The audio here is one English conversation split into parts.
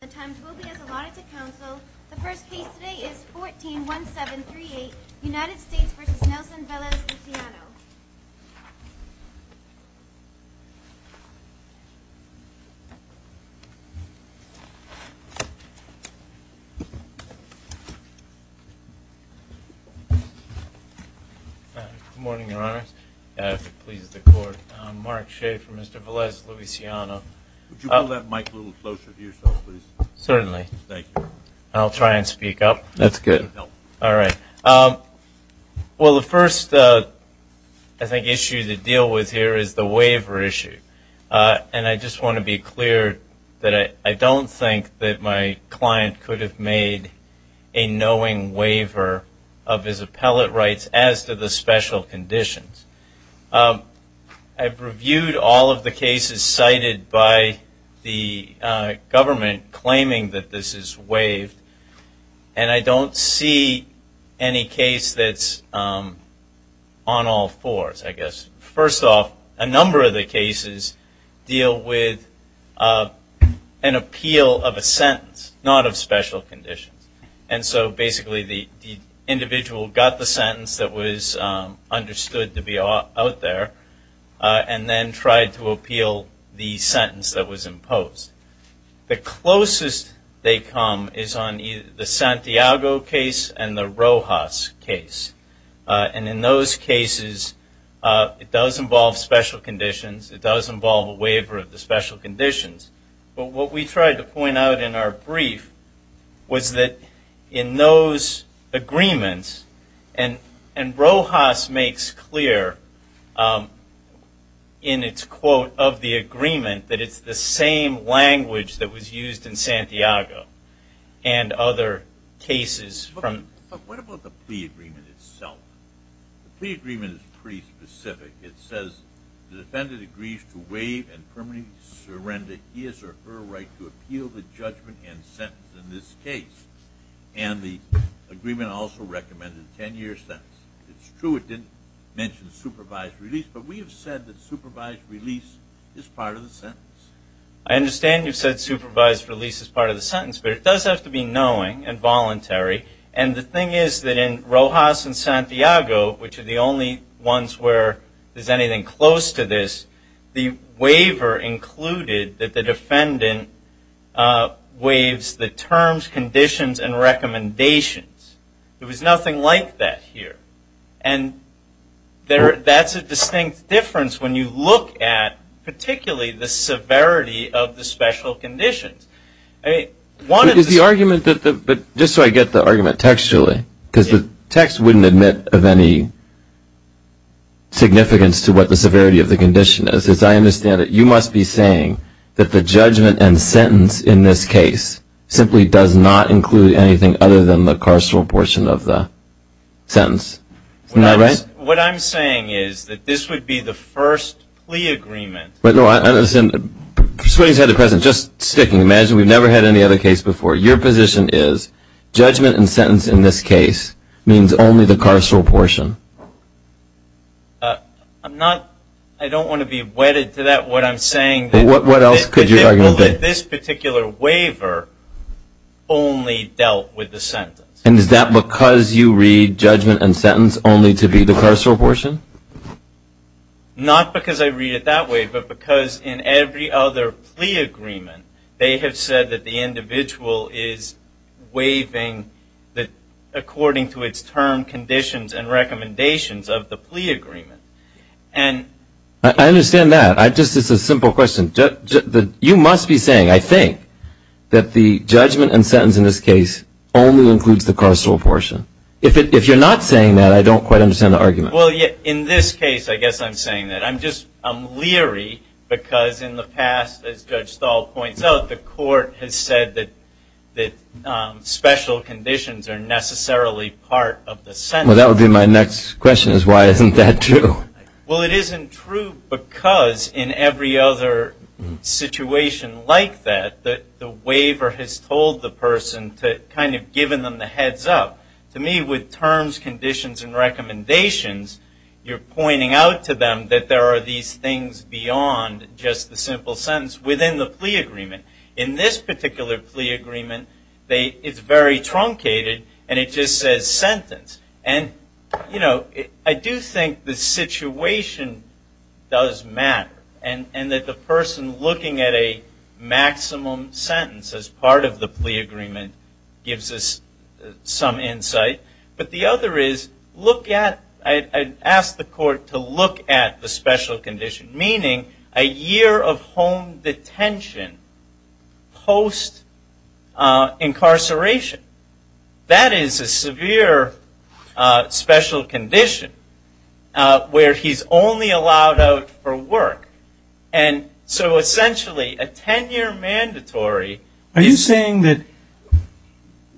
The times will be as allotted to counsel. The first case today is 14-1738, United States v. Nelson Velez-Luciano. Good morning, Your Honors. If it pleases the Court, I'm Mark Shea for Mr. Velez-Luciano. Would you pull that mic a little closer to yourself, please? Certainly. Thank you. I'll try and speak up. That's good. All right. Well, the first, I think, issue to deal with here is the waiver issue. And I just want to be clear that I don't think that my client could have made a knowing waiver of his appellate rights as to the special conditions. I've reviewed all of the cases cited by the government claiming that this is waived. And I don't see any case that's on all fours, I guess. First off, a number of the cases deal with an appeal of a sentence, not of special conditions. And so basically the individual got the sentence that was understood to be out there and then tried to appeal the sentence that was imposed. The closest they come is on the Santiago case and the Rojas case. And in those cases, it does involve special conditions. It does involve a waiver of the special conditions. But what we tried to point out in our brief was that in those agreements, and Rojas makes clear in its quote of the agreement that it's the same language that was used in Santiago and other cases. But what about the plea agreement itself? The plea agreement is pretty specific. It says the defendant agrees to waive and permanently surrender his or her right to appeal the judgment and sentence in this case. And the agreement also recommended a 10-year sentence. It's true it didn't mention supervised release, but we have said that supervised release is part of the sentence. I understand you've said supervised release is part of the sentence, but it does have to be knowing and voluntary. And the thing is that in Rojas and Santiago, which are the only ones where there's anything close to this, the waiver included that the defendant waives the terms, conditions, and recommendations. There was nothing like that here. And that's a distinct difference when you look at particularly the severity of the special conditions. Just so I get the argument textually, because the text wouldn't admit of any significance to what the severity of the condition is. As I understand it, you must be saying that the judgment and sentence in this case simply does not include anything other than the carceral portion of the sentence. What I'm saying is that this would be the first plea agreement. But, no, I understand. Just sticking. Imagine we've never had any other case before. Your position is judgment and sentence in this case means only the carceral portion. I don't want to be wedded to that. What I'm saying is that this particular waiver only dealt with the sentence. And is that because you read judgment and sentence only to be the carceral portion? Not because I read it that way, but because in every other plea agreement, they have said that the individual is waiving according to its term, conditions, and recommendations of the plea agreement. I understand that. It's just a simple question. You must be saying, I think, that the judgment and sentence in this case only includes the carceral portion. If you're not saying that, I don't quite understand the argument. Well, in this case, I guess I'm saying that. I'm leery because in the past, as Judge Stahl points out, the court has said that special conditions are necessarily part of the sentence. Well, that would be my next question, is why isn't that true? Well, it isn't true because in every other situation like that, the waiver has told the person to kind of give them the heads up. To me, with terms, conditions, and recommendations, you're pointing out to them that there are these things beyond just the simple sentence within the plea agreement. In this particular plea agreement, it's very truncated, and it just says sentence. And, you know, I do think the situation does matter, and that the person looking at a maximum sentence as part of the plea agreement gives us some insight. But the other is, I'd ask the court to look at the special condition, meaning a year of home detention post-incarceration. That is a severe special condition where he's only allowed out for work. And so, essentially, a 10-year mandatory. Are you saying that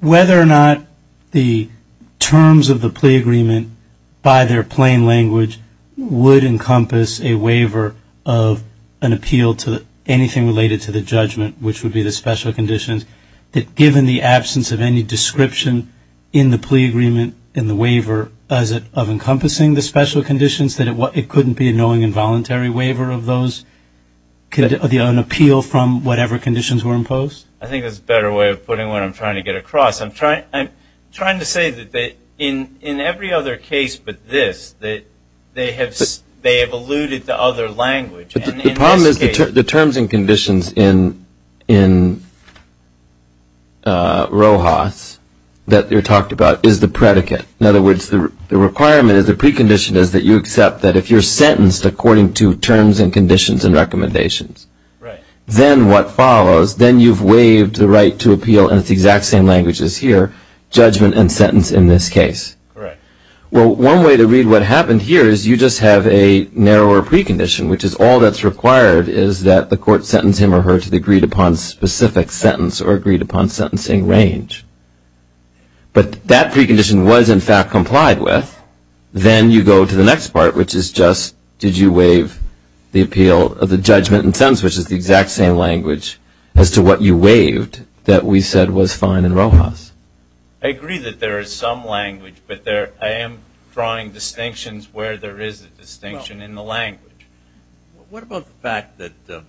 whether or not the terms of the plea agreement, by their plain language, would encompass a waiver of an appeal to anything related to the judgment, which would be the special conditions, that given the absence of any description in the plea agreement, in the waiver, of encompassing the special conditions, that it couldn't be a knowing involuntary waiver of those? Could it be an appeal from whatever conditions were imposed? I think that's a better way of putting what I'm trying to get across. I'm trying to say that in every other case but this, that they have alluded to other language. The problem is the terms and conditions in Rojas that are talked about is the predicate. In other words, the requirement is, the precondition is, that you accept that if you're sentenced according to terms and conditions and recommendations, then what follows, then you've waived the right to appeal, and it's the exact same language as here, judgment and sentence in this case. Well, one way to read what happened here is you just have a narrower precondition, which is all that's required is that the court sentence him or her to the agreed upon specific sentence or agreed upon sentencing range. But that precondition was, in fact, complied with, then you go to the next part, which is just did you waive the appeal of the judgment and sentence, which is the exact same language as to what you waived that we said was fine in Rojas. I agree that there is some language, but I am drawing distinctions where there is a distinction in the language. Well, what about the fact that the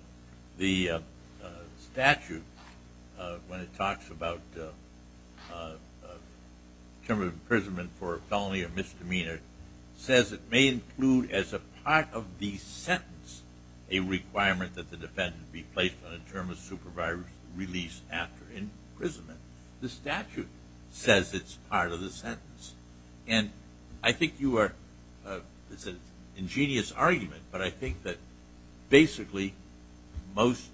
statute, when it talks about term of imprisonment for felony or misdemeanor, says it may include as a part of the sentence a requirement that the defendant be placed on a term of supervisory release after imprisonment. The statute says it's part of the sentence. And I think you are, it's an ingenious argument, but I think that basically most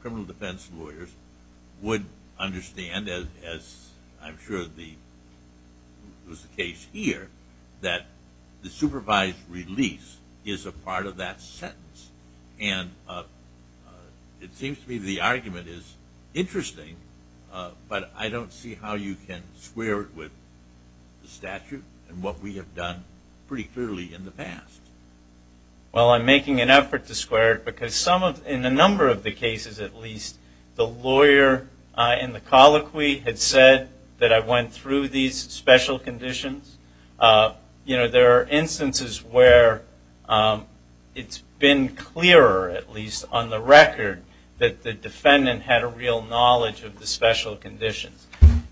criminal defense lawyers would understand, as I'm sure was the case here, that the supervised release is a part of that sentence. And it seems to me the argument is interesting, but I don't see how you can square it with the statute and what we have done pretty clearly in the past. Well, I'm making an effort to square it because some of, in a number of the cases at least, the lawyer in the colloquy had said that I went through these special conditions. You know, there are instances where it's been clearer, at least on the record, that the defendant had a real knowledge of the special conditions.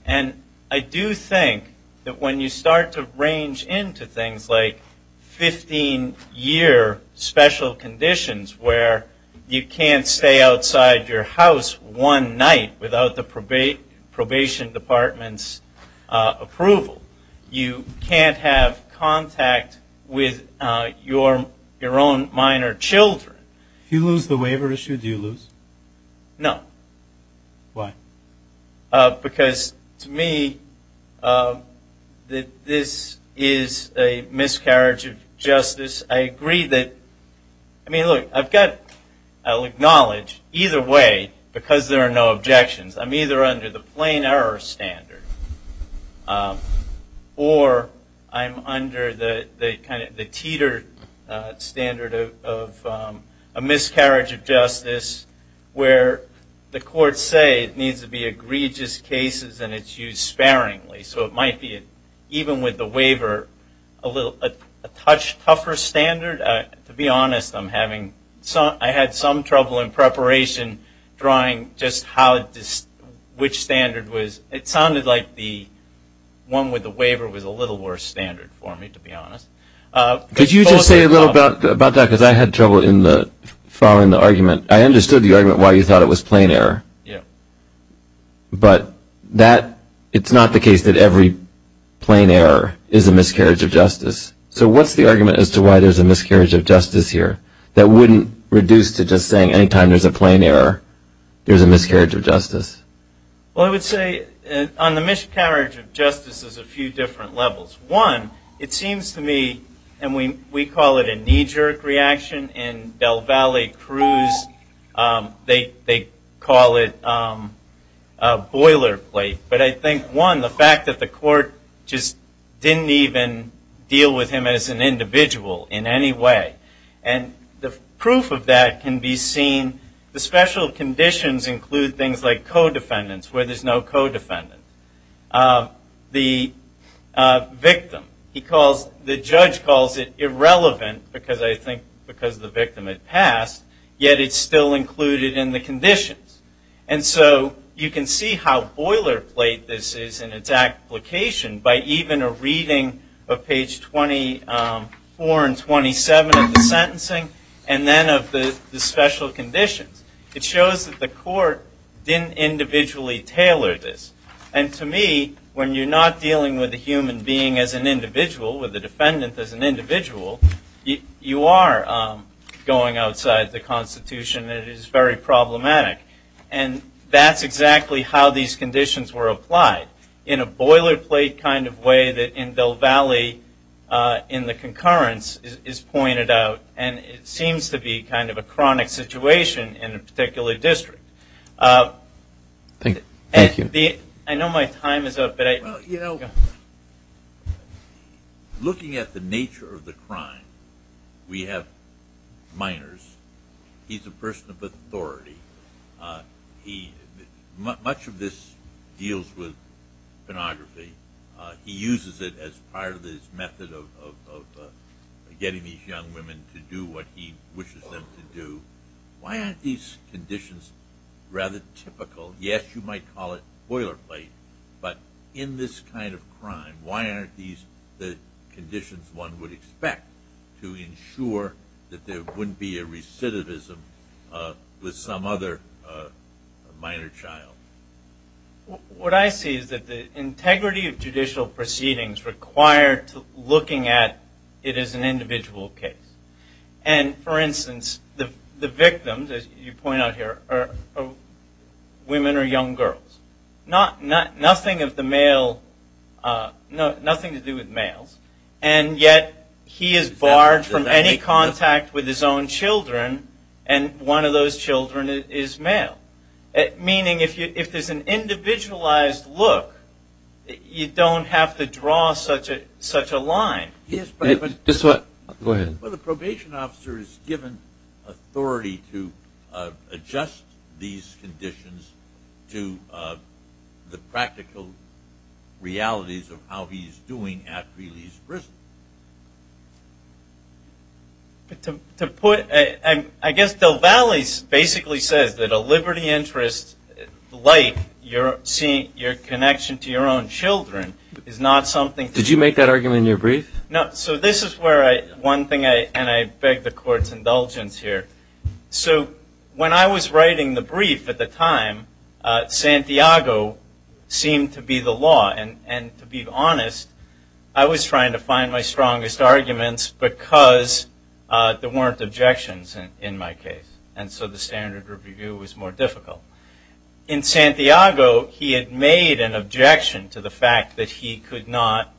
And I do think that when you start to range into things like 15-year special conditions where you can't stay outside your house one night without the probation department's approval, you can't have contact with your own minor children. If you lose the waiver issue, do you lose? No. Why? Because to me, this is a miscarriage of justice. I agree that, I mean, look, I'll acknowledge either way, because there are no objections, I'm either under the plain error standard, or I'm under the teeter standard of a miscarriage of justice where the courts say it needs to be egregious cases and it's used sparingly. So it might be, even with the waiver, a tougher standard. To be honest, I had some trouble in preparation drawing just which standard was, it sounded like the one with the waiver was a little worse standard for me, to be honest. Could you just say a little bit about that, because I had trouble following the argument. I understood the argument why you thought it was plain error. But it's not the case that every plain error is a miscarriage of justice. So what's the argument as to why there's a miscarriage of justice here that wouldn't reduce to just saying any time there's a plain error, there's a miscarriage of justice? Well, I would say on the miscarriage of justice is a few different levels. One, it seems to me, and we call it a knee-jerk reaction, in Del Valle Cruz, they call it a boilerplate. But I think, one, the fact that the court just didn't even deal with him as an individual in any way. And the proof of that can be seen, the special conditions include things like co-defendants, where there's no co-defendant. The victim, the judge calls it irrelevant, because I think because the victim had passed, yet it's still included in the conditions. And so you can see how boilerplate this is in its application by even a reading of page 24 and 27 of the sentencing and then of the special conditions. It shows that the court didn't individually tailor this. And to me, when you're not dealing with a human being as an individual, with a defendant as an individual, you are going outside the Constitution, and it is very problematic. And that's exactly how these conditions were applied, in a boilerplate kind of way that in Del Valle in the concurrence is pointed out, and it seems to be kind of a chronic situation in a particular district. Thank you. I know my time is up. Well, you know, looking at the nature of the crime, we have minors. He's a person of authority. Much of this deals with pornography. He uses it as part of his method of getting these young women to do what he wishes them to do. Why aren't these conditions rather typical? Yes, you might call it boilerplate, but in this kind of crime, why aren't these the conditions one would expect to ensure that there wouldn't be a recidivism with some other minor child? What I see is that the integrity of judicial proceedings required looking at it as an individual case. And, for instance, the victims, as you point out here, are women or young girls. Nothing to do with males, and yet he is barred from any contact with his own children, and one of those children is male. Meaning if there's an individualized look, you don't have to draw such a line. Go ahead. Well, the probation officer is given authority to adjust these conditions to the practical realities of how he's doing after he leaves prison. I guess Del Valle basically says that a liberty interest like your connection to your own children is not something that Can you make that argument in your brief? No. So this is one thing, and I beg the court's indulgence here. So when I was writing the brief at the time, Santiago seemed to be the law, and to be honest, I was trying to find my strongest arguments because there weren't objections in my case, and so the standard review was more difficult. In Santiago, he had made an objection to the fact that he could not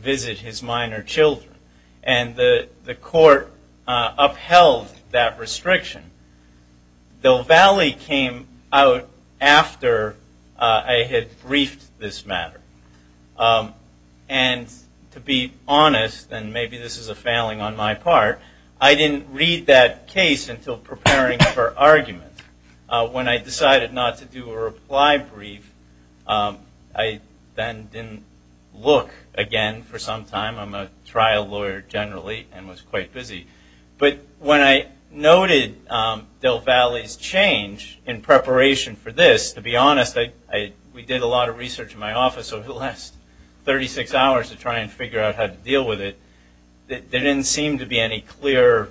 visit his minor children, and the court upheld that restriction. Del Valle came out after I had briefed this matter, and to be honest, and maybe this is a failing on my part, I didn't read that case until preparing for argument. When I decided not to do a reply brief, I then didn't look again for some time. I'm a trial lawyer generally and was quite busy. But when I noted Del Valle's change in preparation for this, to be honest, we did a lot of research in my office over the last 36 hours to try and figure out how to deal with it. There didn't seem to be any clear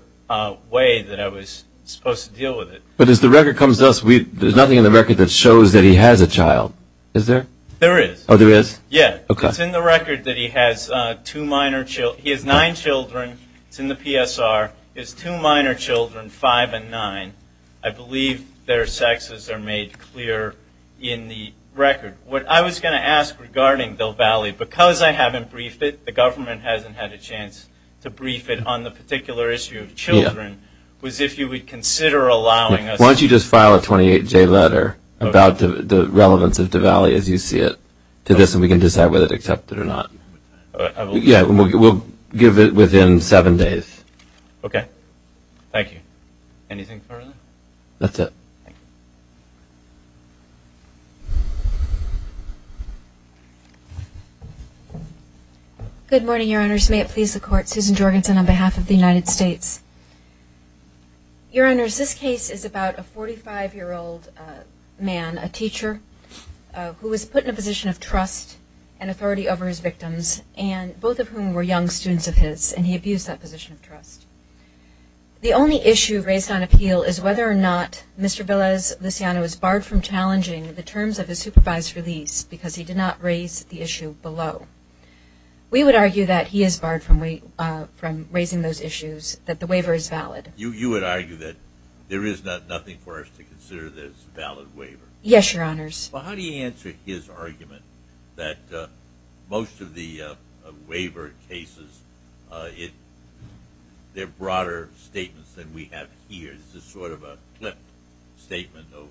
way that I was supposed to deal with it. But as the record comes to us, there's nothing in the record that shows that he has a child, is there? There is. Oh, there is? Yeah. Okay. It's in the record that he has two minor children. He has nine children. It's in the PSR. He has two minor children, five and nine. I believe their sexes are made clear in the record. What I was going to ask regarding Del Valle, because I haven't briefed it, the government hasn't had a chance to brief it on the particular issue of children, was if you would consider allowing us to. Why don't you just file a 28-J letter about the relevance of Del Valle as you see it to this and we can decide whether to accept it or not. Yeah, we'll give it within seven days. Okay. Thank you. Anything further? That's it. Thank you. Good morning, Your Honors. May it please the Court, Susan Jorgensen on behalf of the United States. Your Honors, this case is about a 45-year-old man, a teacher, who was put in a position of trust and authority over his victims, both of whom were young students of his, and he abused that position of trust. The only issue raised on appeal is whether or not Mr. Velez-Luciano is barred from challenging the terms of his supervised release because he did not raise the issue below. We would argue that he is barred from raising those issues, that the waiver is valid. You would argue that there is nothing for us to consider that it's a valid waiver? Yes, Your Honors. Well, how do you answer his argument that most of the waiver cases, they're broader statements than we have here. This is sort of a flip statement of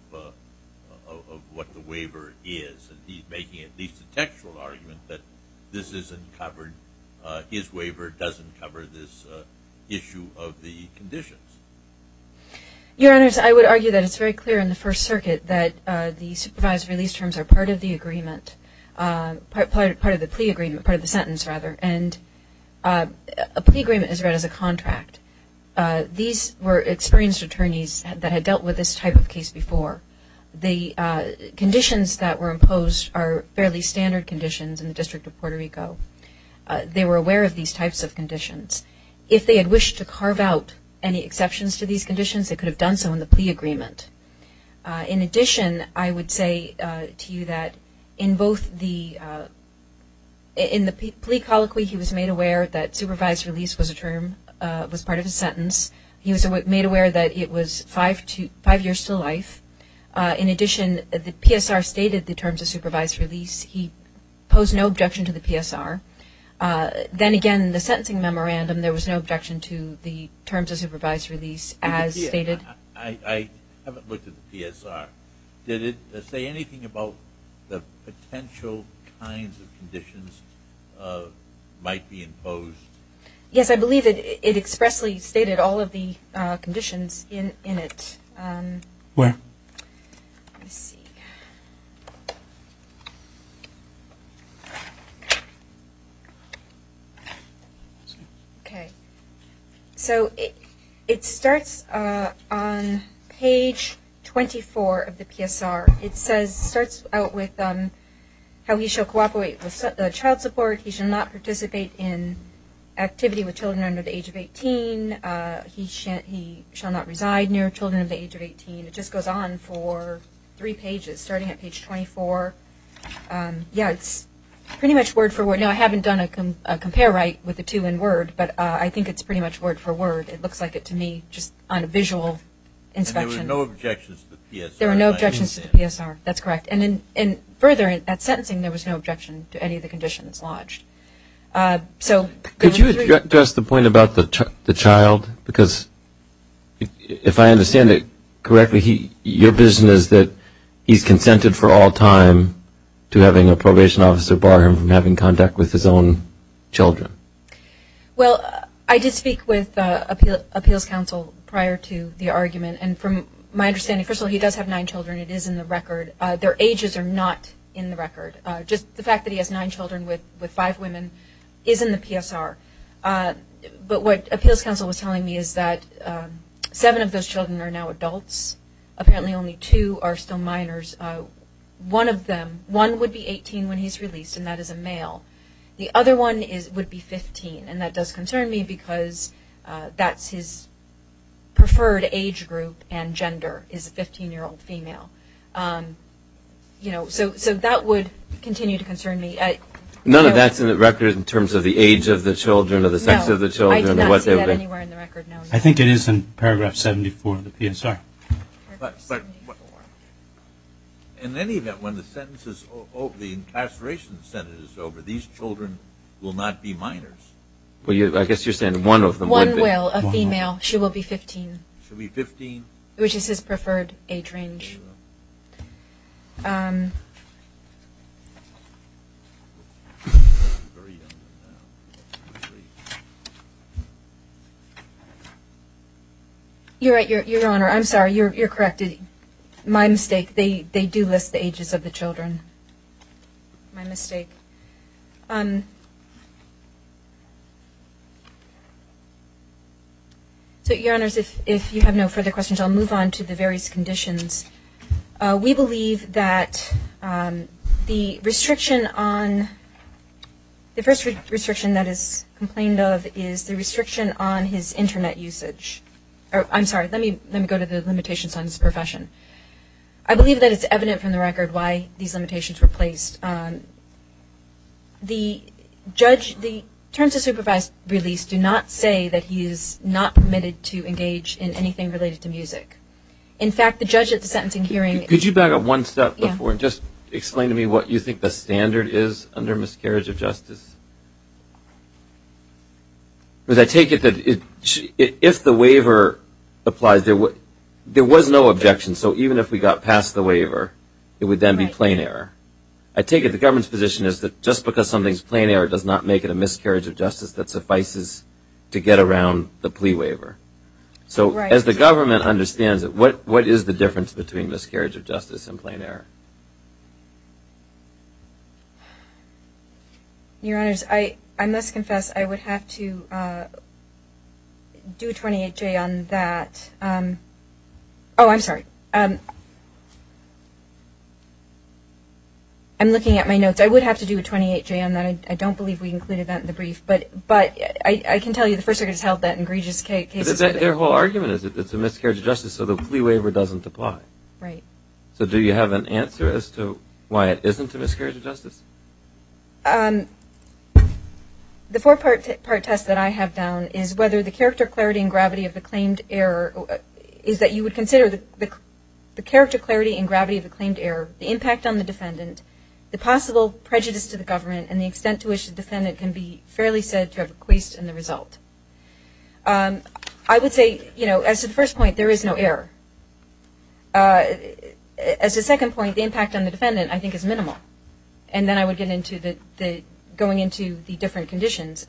what the waiver is. He's making at least a textual argument that this isn't covered, his waiver doesn't cover this issue of the conditions. Your Honors, I would argue that it's very clear in the First Circuit that the supervised release terms are part of the agreement, part of the plea agreement, part of the sentence, rather, and a plea agreement is read as a contract. These were experienced attorneys that had dealt with this type of case before. The conditions that were imposed are fairly standard conditions in the District of Puerto Rico. They were aware of these types of conditions. If they had wished to carve out any exceptions to these conditions, they could have done so in the plea agreement. In addition, I would say to you that in both the, in the plea colloquy, he was made aware that supervised release was a term, was part of the sentence. He was made aware that it was five years to life. In addition, the PSR stated the terms of supervised release. He posed no objection to the PSR. Then again, the sentencing memorandum, there was no objection to the terms of supervised release as stated. I haven't looked at the PSR. Did it say anything about the potential kinds of conditions might be imposed? Yes, I believe it expressly stated all of the conditions in it. Where? Let me see. Okay. So it starts on page 24 of the PSR. It says, starts out with how he shall cooperate with child support. He shall not participate in activity with children under the age of 18. He shall not reside near children of the age of 18. It just goes on for three pages, starting at page 24. Yeah, it's pretty much word for word. Now, I haven't done a compare right with the two in word, but I think it's pretty much word for word. It looks like it to me, just on a visual inspection. There were no objections to the PSR. There were no objections to the PSR. That's correct. And further, in that sentencing, there was no objection to any of the conditions lodged. Could you address the point about the child? Because if I understand it correctly, your vision is that he's consented for all time to having a probation officer bar him from having contact with his own children. Well, I did speak with appeals counsel prior to the argument. And from my understanding, first of all, he does have nine children. It is in the record. Their ages are not in the record. Just the fact that he has nine children with five women is in the PSR. But what appeals counsel was telling me is that seven of those children are now adults. Apparently only two are still minors. One of them, one would be 18 when he's released, and that is a male. The other one would be 15. And that does concern me because that's his preferred age group and gender is a 15-year-old female. You know, so that would continue to concern me. None of that's in the record in terms of the age of the children or the sex of the children? No, I did not see that anywhere in the record, no. I think it is in paragraph 74 of the PSR. Paragraph 74. In any event, when the incarceration sentence is over, these children will not be minors. Well, I guess you're saying one of them will be. One will, a female. She will be 15. She'll be 15. Which is his preferred age range. You're right, Your Honor. I'm sorry. You're correct. My mistake. They do list the ages of the children. My mistake. So, Your Honors, if you have no further questions, I'll move on to the various conditions. We believe that the first restriction that is complained of is the restriction on his Internet usage. I'm sorry. Let me go to the limitations on his profession. I believe that it's evident from the record why these limitations were placed. The terms of supervised release do not say that he is not permitted to engage in anything related to music. In fact, the judge at the sentencing hearing. Could you back up one step before and just explain to me what you think the standard is under miscarriage of justice? Because I take it that if the waiver applies, there was no objection. So, even if we got past the waiver, it would then be plain error. I take it the government's position is that just because something is plain error does not make it a miscarriage of justice that suffices to get around the plea waiver. So, as the government understands it, what is the difference between miscarriage of justice and plain error? Your Honors, I must confess I would have to do a 28-J on that. Oh, I'm sorry. I'm looking at my notes. I would have to do a 28-J on that. I don't believe we included that in the brief. But I can tell you the First Circuit has held that in egregious cases. But their whole argument is that it's a miscarriage of justice so the plea waiver doesn't apply. Right. So, do you have an answer as to why it isn't a miscarriage of justice? The four-part test that I have down is whether the character, clarity, and gravity of the claimed error is that you would consider the character, clarity, and gravity of the claimed error, the impact on the defendant, the possible prejudice to the government, and the extent to which the defendant can be fairly said to have equased in the result. I would say, you know, as to the first point, there is no error. As to the second point, the impact on the defendant, I think, is minimal. And then I would get into going into the different conditions.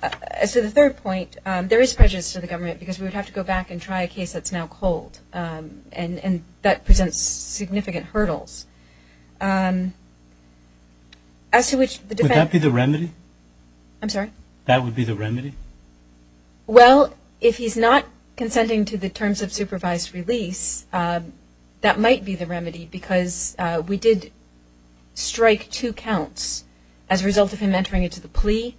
As to the third point, there is prejudice to the government because we would have to go back and try a case that's now cold, and that presents significant hurdles. Would that be the remedy? I'm sorry? That would be the remedy? Well, if he's not consenting to the terms of supervised release, that might be the remedy because we did strike two counts as a result of him entering into the plea.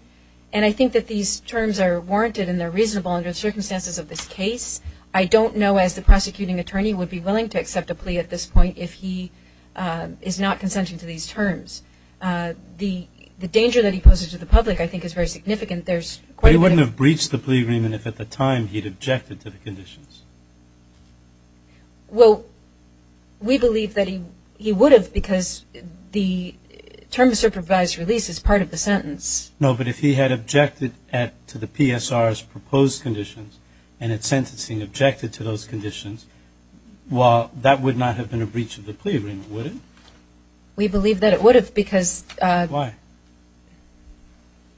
And I think that these terms are warranted and they're reasonable under the circumstances of this case. I don't know as the prosecuting attorney would be willing to accept a plea at this point if he is not consenting to these terms. The danger that he poses to the public, I think, is very significant. He wouldn't have breached the plea agreement if at the time he'd objected to the conditions. Well, we believe that he would have because the term supervised release is part of the sentence. No, but if he had objected to the PSR's proposed conditions and at sentencing objected to those conditions, well, that would not have been a breach of the plea agreement, would it? We believe that it would have because- Why?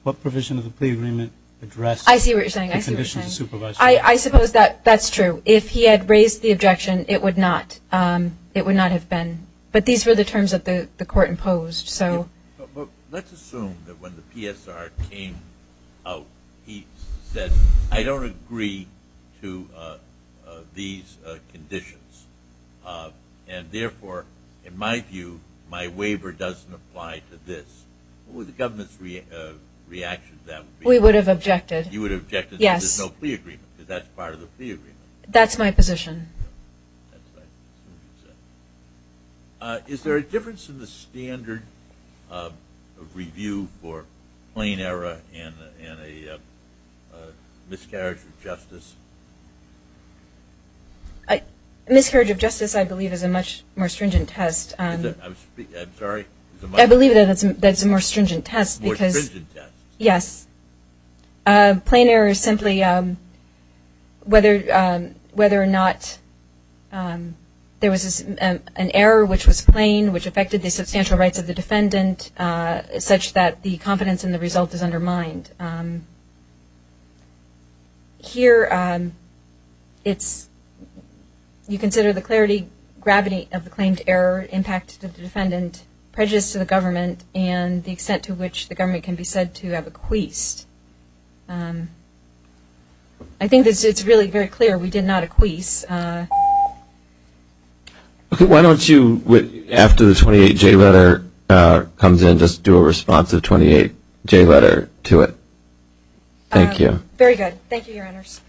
What provision of the plea agreement addressed the conditions of supervised release? I see what you're saying. I suppose that's true. If he had raised the objection, it would not have been. But these were the terms that the court imposed. Let's assume that when the PSR came out, he said, I don't agree to these conditions and, therefore, in my view, my waiver doesn't apply to this. What would the government's reaction to that be? We would have objected. You would have objected that there's no plea agreement because that's part of the plea agreement. That's my position. Is there a difference in the standard of review for plain error and a miscarriage of justice? A miscarriage of justice, I believe, is a much more stringent test. I'm sorry? I believe that it's a more stringent test because- More stringent test. There was an error which was plain, which affected the substantial rights of the defendant, such that the competence in the result is undermined. Here, you consider the clarity, gravity of the claimed error, impact of the defendant, prejudice to the government, and the extent to which the government can be said to have acquiesced. I think it's really very clear we did not acquiesce. Why don't you, after the 28-J letter comes in, just do a responsive 28-J letter to it? Thank you. Thank you, Your Honors.